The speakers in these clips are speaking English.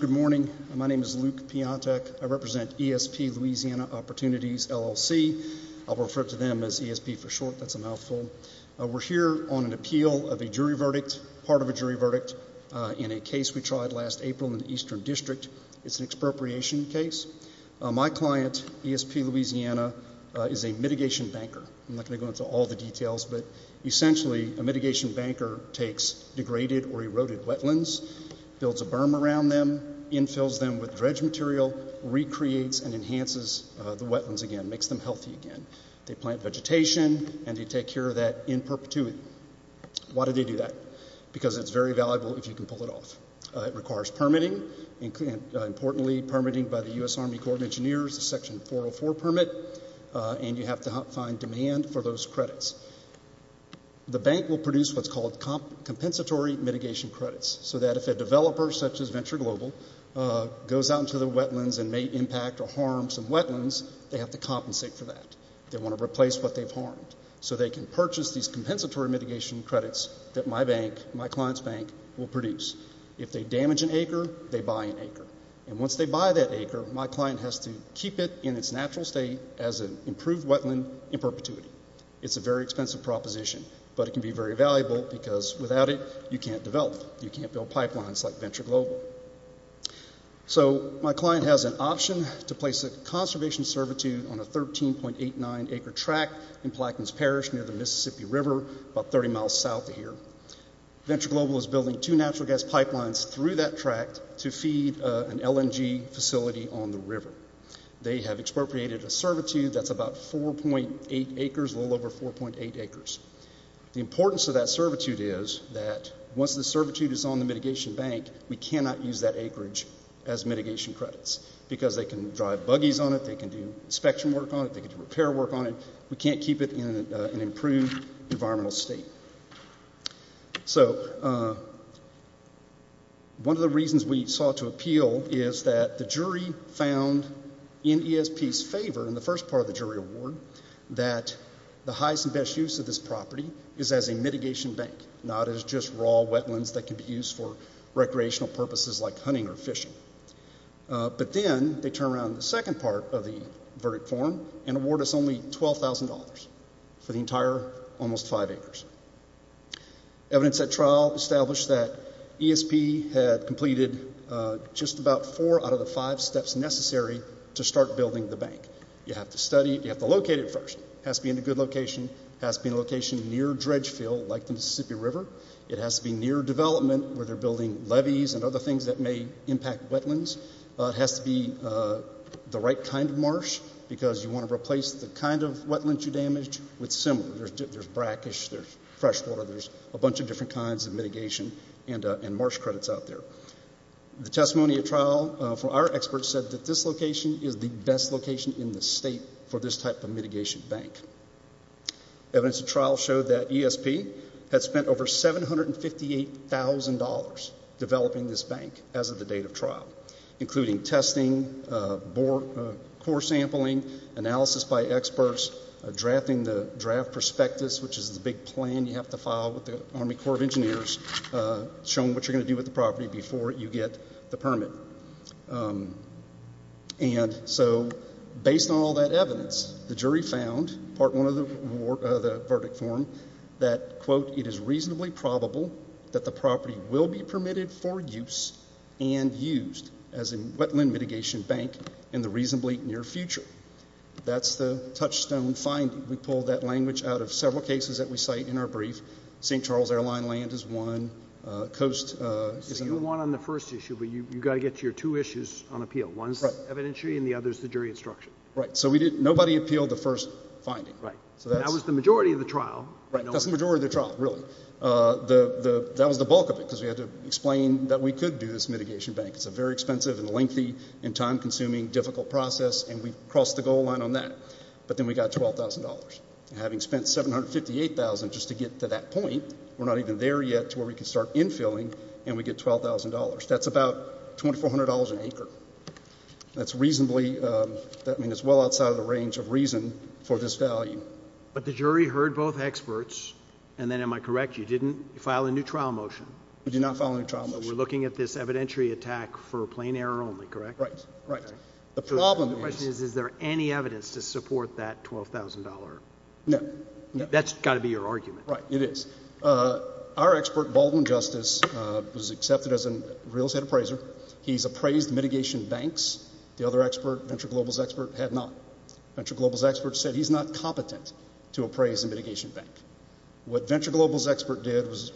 Good morning. My name is Luke Piantek. I represent ESP Louisiana Opportunities LLC. I'll refer to them as ESP for short. That's a mouthful. We're here on an appeal of a jury verdict, part of a jury verdict, in a case we tried last April in the Eastern District. It's an ESP Louisiana is a mitigation banker. I'm not going to go into all the details, but essentially a mitigation banker takes degraded or eroded wetlands, builds a berm around them, infills them with dredge material, recreates and enhances the wetlands again, makes them healthy again. They plant vegetation and they take care of that in perpetuity. Why do they do that? Because it's very valuable if you can pull it off. It requires permitting, importantly by the U.S. Army Corps of Engineers, a section 404 permit, and you have to find demand for those credits. The bank will produce what's called compensatory mitigation credits, so that if a developer, such as Venture Global, goes out into the wetlands and may impact or harm some wetlands, they have to compensate for that. They want to replace what they've harmed. So they can purchase these compensatory mitigation credits that my bank, my client's bank, will produce. If they damage an acre, they buy an acre. Once they buy that acre, my client has to keep it in its natural state as an improved wetland in perpetuity. It's a very expensive proposition, but it can be very valuable because without it you can't develop. You can't build pipelines like Venture Global. So my client has an option to place a conservation servitude on a 13.89 acre track in Plaquemines Parish near the river, building two natural gas pipelines through that track to feed an LNG facility on the river. They have expropriated a servitude that's about 4.8 acres, a little over 4.8 acres. The importance of that servitude is that once the servitude is on the mitigation bank, we cannot use that acreage as mitigation credits because they can drive buggies on it, they can do inspection work on it, they can do repair work on it. We can't keep it in an improved environmental state. So one of the reasons we sought to appeal is that the jury found in ESP's favor in the first part of the jury award that the highest and best use of this property is as a mitigation bank, not as just raw wetlands that can be used for recreational purposes like hunting or fishing. But then they turn around the second part of the verdict form and award us only $12,000 for the entire almost five acres. Evidence at trial established that ESP had completed just about four out of the five steps necessary to start building the bank. You have to study it, you have to locate it first. It has to be in a good location, it has to be in a location near dredge fill like the Mississippi River. It has to be near development where they're building levees and other things that may impact wetlands. It has to be the right kind of marsh because you want to replace the kind of wetlands you damage with similar. There's brackish, there's freshwater, there's a bunch of different kinds of mitigation and marsh credits out there. The testimony at trial for our experts said that this location is the best location in the state for this type of mitigation bank. Evidence at trial showed that ESP had spent over $758,000 developing this bank as of the date of trial, including testing, core sampling, analysis by experts, drafting the draft prospectus, which is the big plan you have to file with the Army Corps of Engineers, showing what you're going to do with the property before you get the permit. And so based on all that evidence, the jury found, part one of the verdict form, that, quote, it is reasonably probable that the property will be permitted for use and used as a wetland mitigation bank in the reasonably near future. That's the touchstone finding. We pulled that language out of several cases that we cite in our brief. St. Charles Airline land is one. Coast is another. You were one on the first issue, but you've got to get your two issues on appeal. One's evidentiary and the other's the jury instruction. Right. So nobody appealed the first finding. Right. And that was the majority of the trial. Right. That's the majority of the trial, really. That was the bulk of it, because we had to explain that we could do this mitigation bank. It's a very expensive and lengthy and time consuming, difficult process, and we crossed the goal line on that. But then we got $12,000. Having spent $758,000 just to get to that point, we're not even there yet to where we can start infilling, and we get $12,000. That's about $2,400 an acre. That's reasonably, that means it's well outside of the range of reason for this value. But the jury heard both experts, and then, am I correct, you didn't file a new trial motion? We did not file a new trial motion. We're looking at this evidentiary attack for plain error only, correct? Right, right. The problem is... Is there any evidence to support that $12,000? No, no. That's got to be your argument. Right, it is. Our expert, Baldwin Justice, was accepted as a real estate appraiser. He's appraised mitigation banks. The other expert, Venture Global's expert, had not. Venture Global's expert said he's not competent to appraise a mitigation bank. What Venture Global's expert did was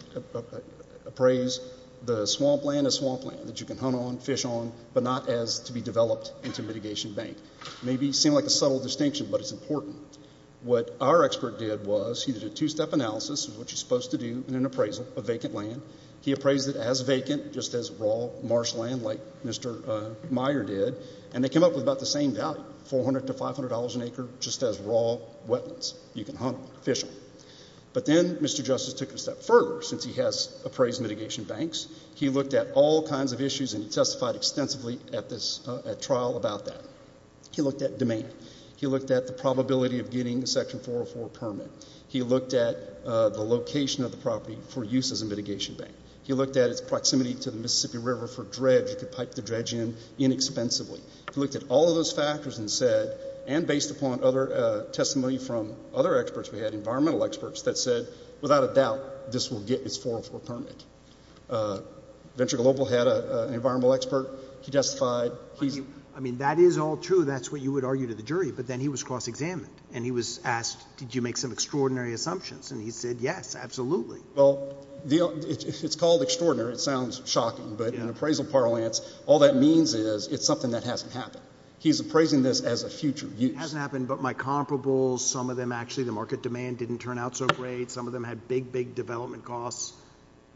appraise the swamp land as swamp land that you can hunt on, fish on, but not as to be developed into mitigation bank. Maybe it seemed like a subtle distinction, but it's important. What our expert did was he did a two-step analysis of what you're supposed to do in appraisal of vacant land. He appraised it as vacant, just as raw marsh land, like Mr. Meyer did, and they came up with about the same value, $400 to $500 an acre, just as raw wetlands you can hunt on, fish on. But then Mr. Justice took it a step further. Since he has appraised mitigation banks, he looked at all kinds of issues and he testified extensively at trial about that. He looked at demand. He looked at the probability of getting a Section 404 permit. He looked at the location of the property for use as a mitigation bank. He looked at its proximity to the Mississippi River for dredge. You could pipe the dredge in inexpensively. He looked at all of those factors and said, and based upon other testimony from other experts we had, environmental experts, that said, without a doubt, this will get its 404 permit. Venture Global had an environmental expert. He testified. I mean, that is all true. That's what you would argue to the jury. But then he was cross-examined and he was asked, did you make some extraordinary assumptions? And he said, yes, absolutely. Well, it's called extraordinary. It sounds shocking. But in appraisal parlance, all that means is it's something that hasn't happened. He's appraising this as a future use. Hasn't happened, but my comparables, some of them, actually, the market demand didn't turn out so great. Some of them had big, big development costs,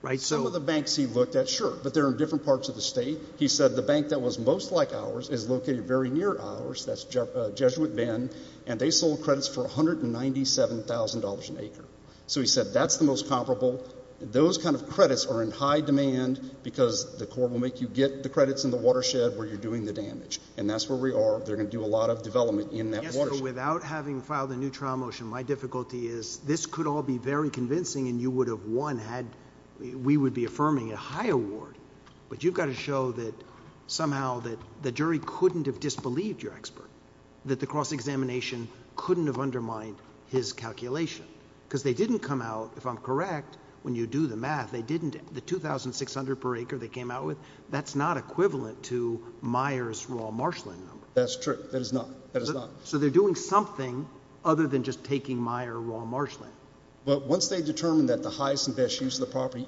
right? Some of the banks he looked at, sure, but they're in different parts of the state. He said the bank that was most like ours is located very near ours, that's Jesuit Bend, and they sold credits for $197,000 an acre. So he said that's the most comparable. Those kind of credits are in high demand because the court will make you get the credits in the watershed where you're doing the damage. And that's where we are. They're going to do a lot of development in that watershed. Without having filed a new trial motion, my difficulty is this could all be very convincing and you would have won had we would be affirming a high award. But you've got to show that somehow that the jury couldn't have disbelieved your expert, that the cross-examination couldn't have undermined his calculation. Because they didn't come out, if I'm correct, when you do the math, they didn't. The $2,600 per acre they came out with, that's not equivalent to Meijer's raw marshland number. That's true. That is not. That is not. So they're doing something other than just taking Meijer raw marshland. But once they determine that the highest and best use of the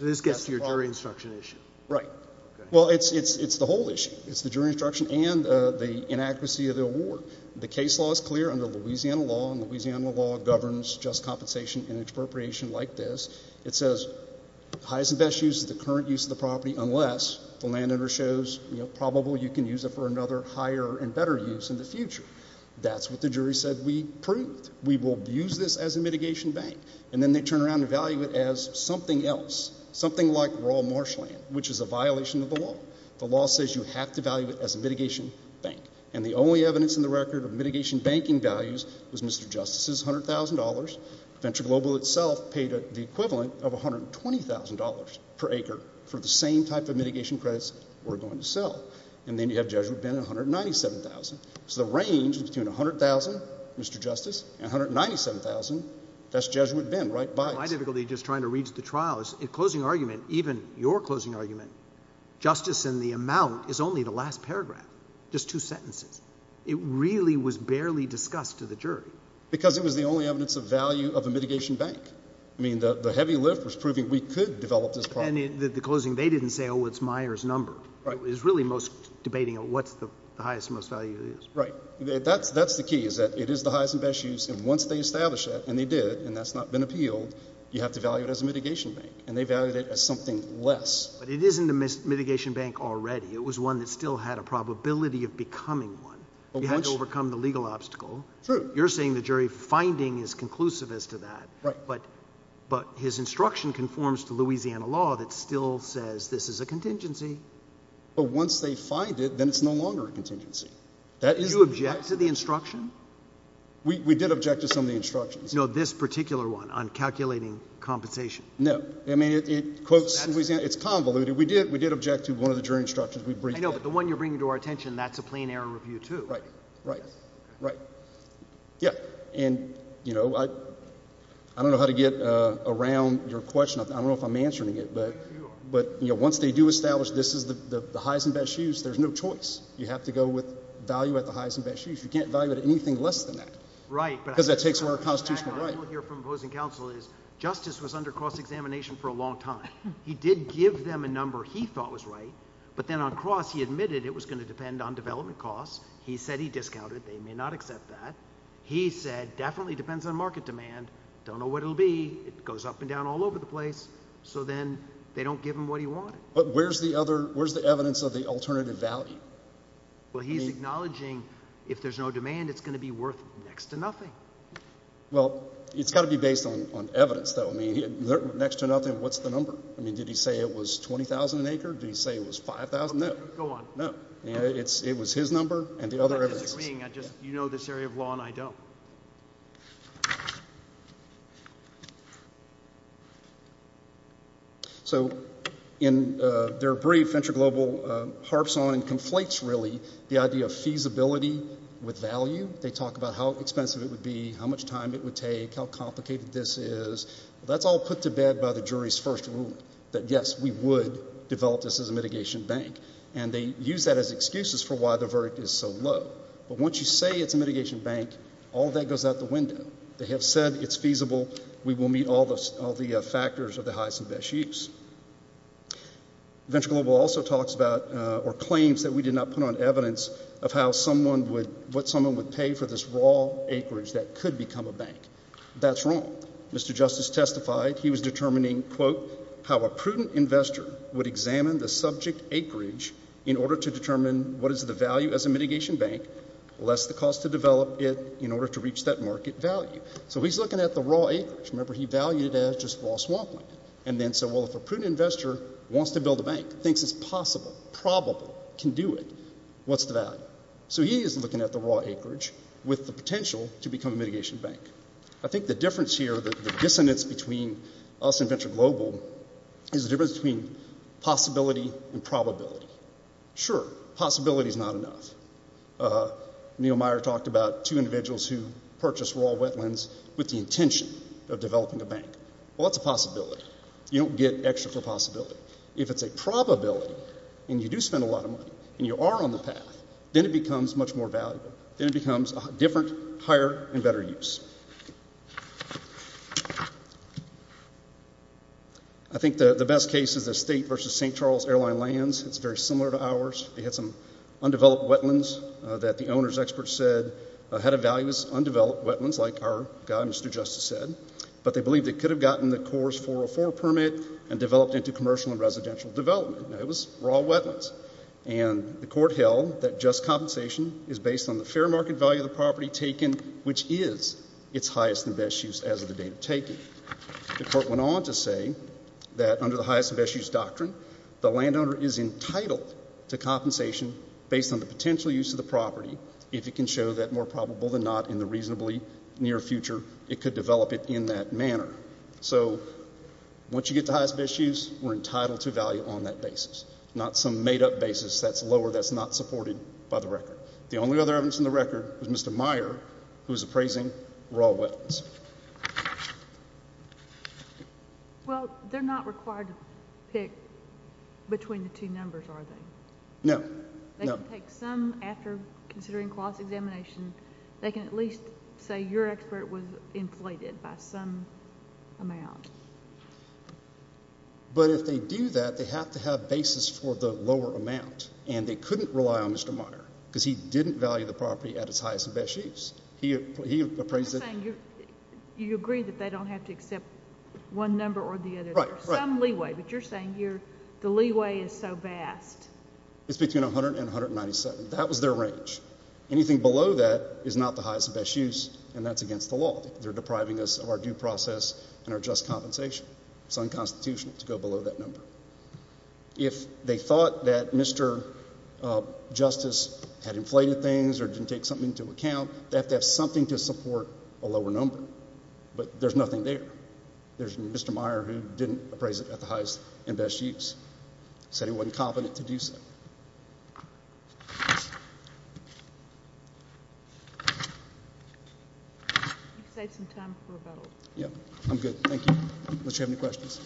This gets to your jury instruction issue. Right. Well, it's the whole issue. It's the jury instruction and the inaccuracy of the award. The case law is clear under Louisiana law. And Louisiana law governs just compensation and expropriation like this. It says highest and best use of the current use of the property unless the landowner shows, you know, probable you can use it for another higher and better use in the future. That's what the jury said we proved. We will use this as a mitigation bank. And then they turn around and value it as something else. Something like raw marshland, which is a violation of the law. The law says you have to value it as a mitigation bank. And the only evidence in the record of mitigation banking values was Mr. Justice's $100,000. Venture Global itself paid the equivalent of $120,000 per acre for the same type of mitigation credits we're going to sell. And then you have Jesuit Bend, $197,000. So the $197,000, that's Jesuit Bend, right by it. My difficulty just trying to reach the trial is the closing argument, even your closing argument, justice in the amount is only the last paragraph, just two sentences. It really was barely discussed to the jury. Because it was the only evidence of value of a mitigation bank. I mean, the heavy lift was proving we could develop this property. The closing, they didn't say, oh, it's Meyer's number. It was really most debating of what's the highest and most value of this. Right. That's the key is that it is the highest and best use. And once they establish that, and they did, and that's not been appealed, you have to value it as a mitigation bank. And they valued it as something less. But it isn't a mitigation bank already. It was one that still had a probability of becoming one. You had to overcome the legal obstacle. True. You're saying the jury finding is conclusive as to that. Right. But his instruction conforms to Louisiana law that still says this is a contingency. But once they find it, then it's no longer a No, this particular one on calculating compensation. No. I mean, it quotes Louisiana. It's convoluted. We did object to one of the jury instructions. I know. But the one you're bringing to our attention, that's a plain error review, too. Right. Right. Right. Yeah. And I don't know how to get around your question. I don't know if I'm answering it. But once they do establish this is the highest and best use, there's no choice. You have to go with value at the highest and best use. You can't value it anything less than that. Right. Because that takes away our constitutional right here from opposing counsel is justice was under cross examination for a long time. He did give them a number he thought was right. But then on cross, he admitted it was going to depend on development costs. He said he discounted. They may not accept that. He said definitely depends on market demand. Don't know what it'll be. It goes up and down all over the place. So then they don't give him what he wanted. But where's the other where's the evidence of the demand? It's going to be worth next to nothing. Well, it's got to be based on evidence, though. I mean, next to nothing. What's the number? I mean, did he say it was 20,000 an acre? Do you say it was 5,000? No, go on. No, it's it was his number. And the other thing, I just you know, this area of law and I don't. So in their brief, venture global harps on and conflates really the idea of feasibility with value. They talk about how expensive it would be, how much time it would take, how complicated this is. That's all put to bed by the jury's first ruling that, yes, we would develop this as a mitigation bank. And they use that as excuses for why the verdict is so low. But once you say it's a mitigation bank, all that goes out the window. They have said it's feasible. We will meet all the all the factors of the highest and best use. Venture Global also talks about or claims that we did not put on evidence of how someone would what someone would pay for this raw acreage that could become a bank. That's wrong. Mr. Justice testified he was determining, quote, how a prudent investor would examine the subject acreage in order to determine what is the value as a mitigation bank, less the cost to develop it in order to reach that market value. So he's looking at the raw acreage. Remember, he valued it as a mitigation bank. So if a prudent investor wants to build a bank, thinks it's possible, probable, can do it, what's the value? So he is looking at the raw acreage with the potential to become a mitigation bank. I think the difference here, the dissonance between us and Venture Global is the difference between possibility and probability. Sure, possibility is not enough. Neil Meyer talked about two individuals who purchased raw wetlands with the intention of developing a bank. Well, that's a possibility. You don't get extra for possibility. If it's a probability and you do spend a lot of money and you are on the path, then it becomes much more valuable. Then it becomes different, higher, and better use. I think the best case is the state versus St. Charles airline lands. It's very similar to ours. They had some undeveloped wetlands that the owner's experts said had a value as undeveloped wetlands, like our guy, Mr. Justice, said. But they believed they could have gotten the CORE's 404 permit and developed into commercial and residential development. Now, it was raw wetlands. And the court held that just compensation is based on the fair market value of the property taken, which is its highest and best use as of the date of taking. The court went on to say that under the highest and best use doctrine, the landowner is entitled to compensation based on the potential use of the property, if it can show that more probable than not in the reasonably near future, it could develop it in that manner. So once you get the highest and best use, we're entitled to value on that basis, not some made-up basis that's lower, that's not supported by the record. The only other evidence in the record was Mr. Meyer, who was appraising raw wetlands. Well, they're not required to pick between the two numbers, are they? No. No. After considering clause examination, they can at least say your expert was inflated by some amount. But if they do that, they have to have basis for the lower amount. And they couldn't rely on Mr. Meyer, because he didn't value the property at its highest and best use. He appraised it. You agree that they don't have to accept one number or the other. Some leeway. But you're saying the leeway is so vast. It's between 100 and 197. That was their range. Anything below that is not the highest and best use, and that's against the law. They're depriving us of our due process and our just compensation. It's unconstitutional to go below that number. If they thought that Mr. Justice had inflated things or didn't take something into account, they have to have something to support a lower number. But there's nothing there. There's Mr. Meyer who didn't appraise it at the highest and best use, said he wasn't confident to do so. You can save some time for rebuttal. Yeah. I'm good. Thank you. Unless you have any questions.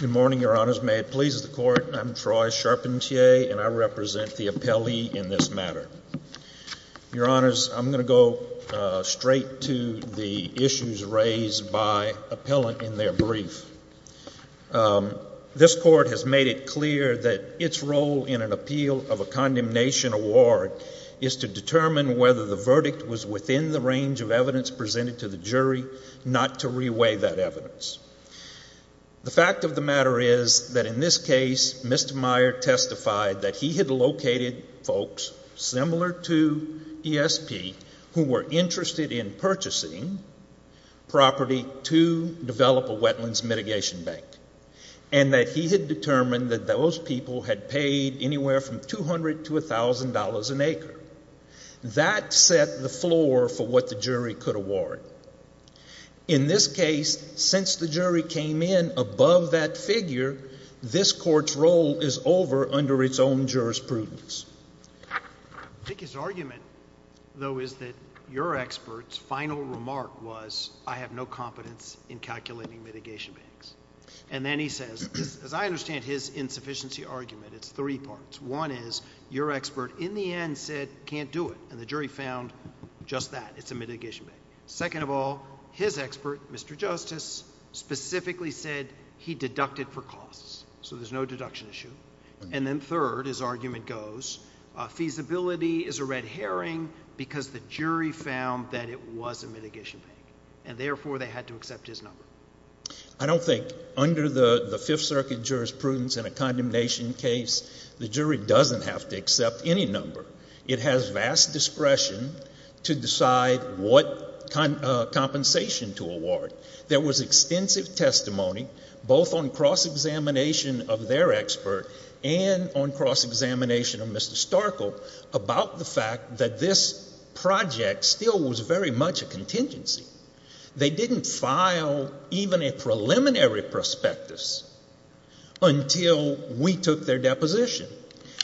Good morning, Your Honors. May it please the Court. I'm Troy Charpentier, and I represent the appellee in this matter. Your Honors, I'm going to go straight to the issues raised by appellant in their brief. This Court has made it clear that its role in an appeal of a condemnation award is to determine whether the verdict was within the range of evidence presented to the jury, not to reweigh that evidence. The fact of the matter is that in this that he had located folks similar to ESP who were interested in purchasing property to develop a wetlands mitigation bank, and that he had determined that those people had paid anywhere from $200 to $1,000 an acre. That set the floor for what the jury could award. In this case, since the jury came in above that figure, this Court's role is over under its own jurisprudence. I think his argument, though, is that your expert's final remark was, I have no competence in calculating mitigation banks. And then he says, as I understand his insufficiency argument, it's three parts. One is, your expert in the end said, can't do it, the jury found just that, it's a mitigation bank. Second of all, his expert, Mr. Justice, specifically said he deducted for costs, so there's no deduction issue. And then third, his argument goes, feasibility is a red herring because the jury found that it was a mitigation bank, and therefore they had to accept his number. I don't think under the Fifth Circuit jurisprudence in a condemnation case, the jury doesn't have to accept any number. It has vast discretion to decide what compensation to award. There was extensive testimony, both on cross-examination of their expert and on cross-examination of Mr. Starkle, about the fact that this project still was very much a contingency. They didn't file even a preliminary prospectus until we took their deposition.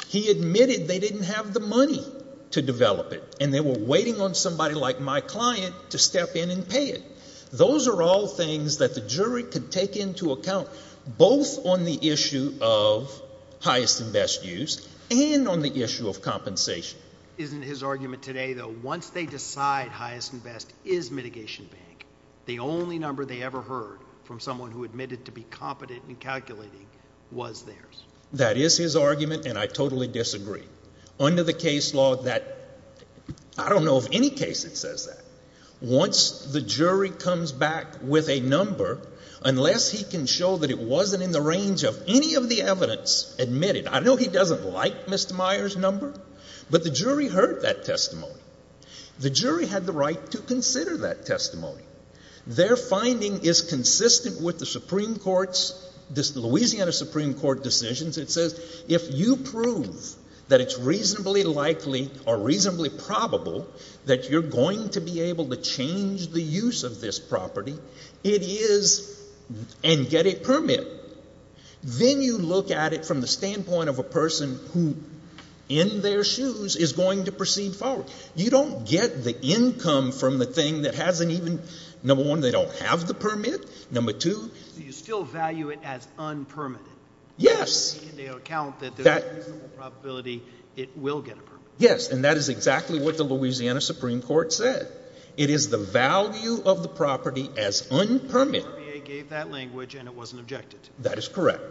He admitted they didn't have the money to develop it, and they were waiting on somebody like my client to step in and pay it. Those are all things that the jury could take into account, both on the issue of highest and best use and on the issue of compensation. Isn't his argument today, though, once they decide highest and best is mitigation bank, the only number they ever heard from someone who admitted to be competent in calculating was theirs? That is his argument, and I totally disagree. Under the case law, that, I don't know of any case that says that. Once the jury comes back with a number, unless he can show that it wasn't in the range of any of the evidence admitted, I know he doesn't like Mr. Meyer's number, but the jury heard that testimony. The jury had the right to consider that this Louisiana Supreme Court decisions. It says if you prove that it's reasonably likely or reasonably probable that you're going to be able to change the use of this property, it is and get a permit. Then you look at it from the standpoint of a person who, in their shoes, is going to proceed forward. You don't get the income from the thing that hasn't even, number one, they don't have the permit, number two. Do you still value it as unpermitted? Yes. Taking into account that there's a reasonable probability it will get a permit. Yes, and that is exactly what the Louisiana Supreme Court said. It is the value of the property as unpermitted. The RBA gave that language and it wasn't objected to. That is correct.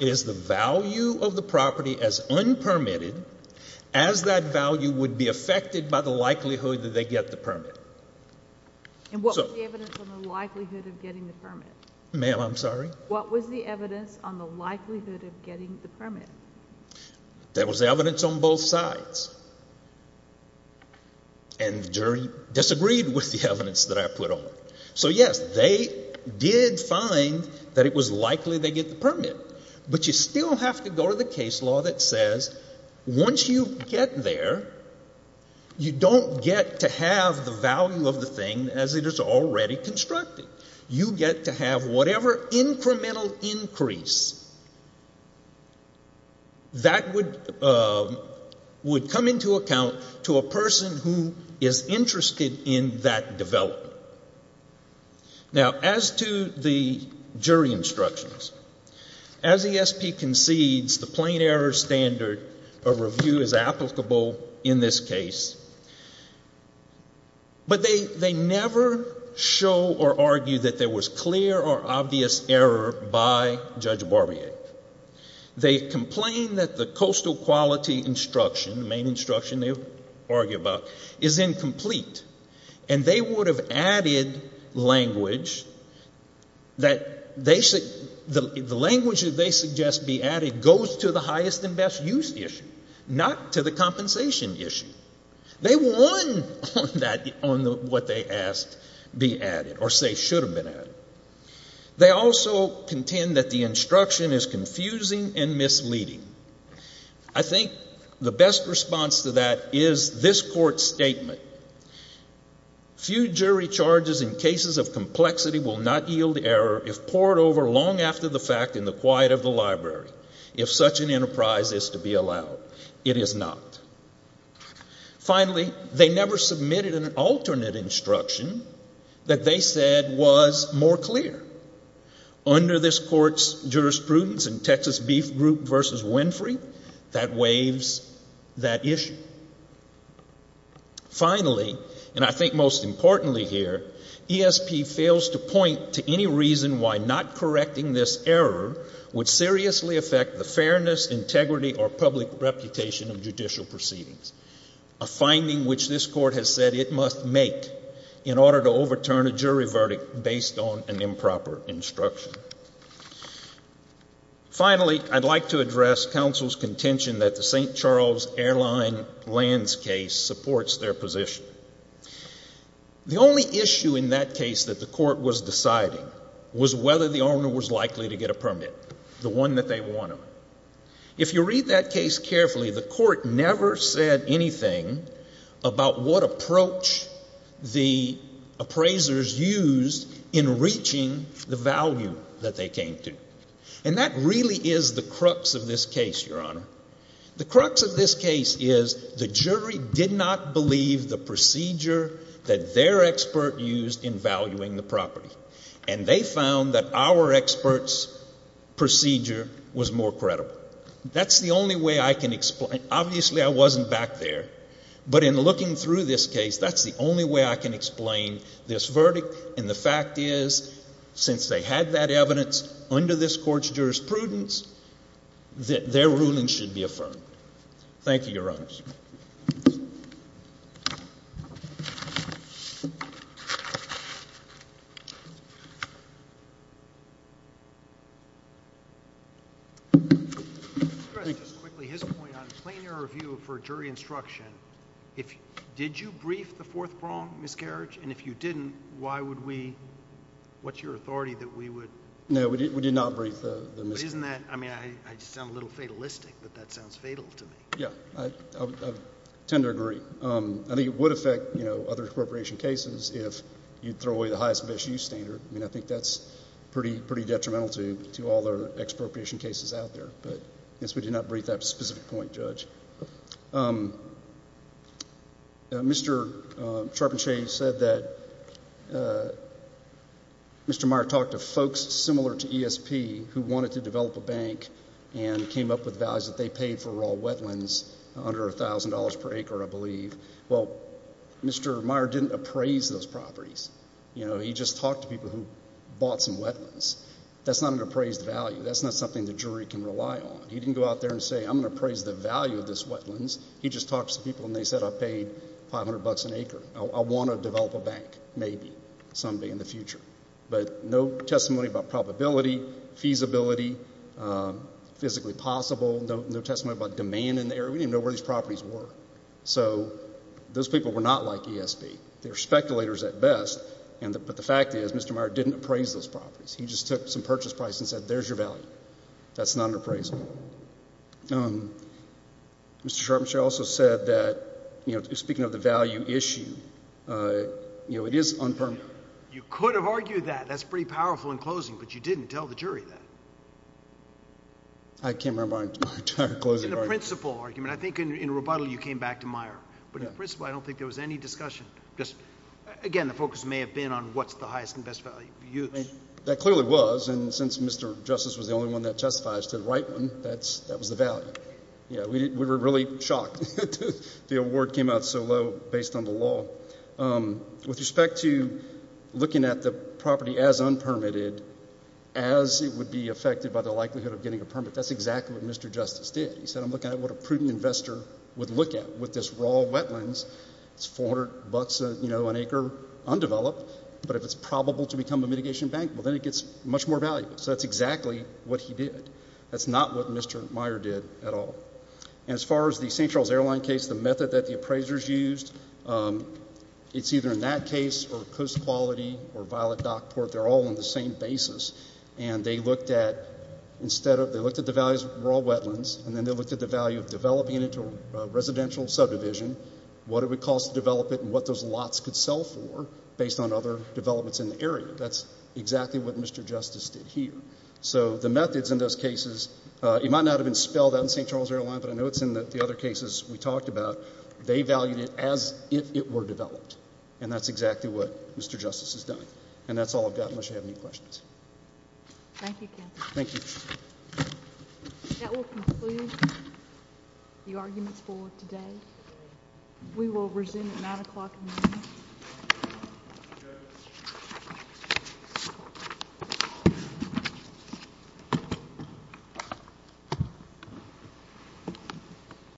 It is the value of the property as unpermitted as that value would be affected by the likelihood that they get the permit. What was the evidence on the likelihood of getting the permit? Ma'am, I'm sorry? What was the evidence on the likelihood of getting the permit? There was evidence on both sides, and the jury disagreed with the evidence that I put on it. So, yes, they did find that it was likely they get the permit, but you still have to go to the case already constructed. You get to have whatever incremental increase that would come into account to a person who is interested in that development. Now, as to the jury instructions, as ESP concedes the plain error standard of review is applicable in this case, but they never show or argue that there was clear or obvious error by Judge Barbier. They complain that the coastal quality instruction, the main instruction they argue about, is incomplete, and they would have added language that they say, the language that they suggest be added goes to the highest and best use issue, not to the compensation issue. They want that on what they ask be added, or say should have been added. They also contend that the instruction is confusing and misleading. I think the best response to that is this court's statement. Few jury charges in cases of complexity will not yield error if poured over long after the fact in the quiet of the enterprise is to be allowed. It is not. Finally, they never submitted an alternate instruction that they said was more clear. Under this court's jurisprudence in Texas Beef Group versus Winfrey, that waives that issue. Finally, and I think most importantly here, ESP fails to point to any reason why not correcting this error would seriously affect the fairness, integrity, or public reputation of judicial proceedings, a finding which this court has said it must make in order to overturn a jury verdict based on an improper instruction. Finally, I'd like to address counsel's contention that the St. Charles Airlines lands case supports their position. The only issue in that case that the court was deciding was whether the owner was likely to get a permit, the one that they wanted. If you read that case carefully, the court never said anything about what approach the appraisers used in reaching the value that they came to. And that really is the crux of this case, Your Honor. The crux of this case is the jury did not believe the procedure that their expert used in valuing the property. And they found that our expert's procedure was more credible. That's the only way I can explain. Obviously, I wasn't back there. But in looking through this case, that's the only way I can explain this verdict. And the fact is, since they had that evidence under this court's control, this is the only way I can explain this. I'd like to address just quickly his point on plain-air review for jury instruction. Did you brief the fourth prong miscarriage? And if you didn't, why would we? What's your authority that we would... No, we did not brief the miscarriage. Isn't that... I mean, I sound a little fatalistic, but that sounds fatal to me. Yeah, I tend to agree. I think it would affect other expropriation cases if you'd throw away the highest-of-issue standard. I mean, I think that's pretty detrimental to all the expropriation cases out there. But I guess we did not brief that specific point, Judge. Mr. Charpentier said that Mr. Meyer talked to folks similar to ESP who wanted to develop a bank and came up with values that they paid for raw wetlands, under $1,000 per acre, I believe. Well, Mr. Meyer didn't appraise those properties. He just talked to people who bought some wetlands. That's not an appraised value. That's not something the jury can rely on. He didn't go out there and say, I'm going to appraise the value of this wetlands. He just talked to some people and they said, I paid $500 an acre. I want to develop a bank, maybe, someday in the future. But no testimony about probability, feasibility, physically possible, no testimony about demand in the area. We didn't even know where these properties were. So those people were not like ESP. They're speculators at best. But the fact is, Mr. Meyer didn't appraise those properties. He just took some purchase price and said, there's your value. That's not an appraisal. Mr. Charpentier also said that, speaking of the value issue, it is unpermitted. You could have argued that. That's pretty powerful in closing, but you didn't tell the jury that. I can't remember my entire closing argument. In the principal argument, I think in Roboto, you came back to Meyer. But in principle, I don't think there was any discussion. Again, the focus may have been on what's the highest and best value. That clearly was. And since Mr. Justice was the only one that testifies to the right one, that was the value. We were really shocked the award came out so low based on the law. With respect to looking at the property as unpermitted, as it would be affected by the likelihood of getting a permit, that's exactly what Mr. Justice did. He said, I'm looking at what a prudent investor would look at with this raw wetlands. It's 400 bucks an acre undeveloped. But if it's probable to become a mitigation bank, well, then it gets much more valuable. So that's exactly what he did. That's not what Mr. Meyer did at all. And as far as the St. Charles Airline case, the method that the appraisers used, it's either in that case or Coast Quality or Violet Dockport. They're all on the same basis. And they looked at the values of raw wetlands, and then they looked at the value of developing it into a residential subdivision, what it would cost to develop it, and what those lots could sell for based on other developments in the area. That's exactly what Mr. Justice did here. So the methods in those cases, it might not have been spelled out in St. Charles Airline, but I know it's in the other cases we talked about. They valued it as if it were developed. And that's exactly what Mr. Justice has done. And that's all I've got, unless you have any questions. Thank you, Ken. Thank you. That will conclude the arguments for today. We will resume at 9 o'clock in the morning.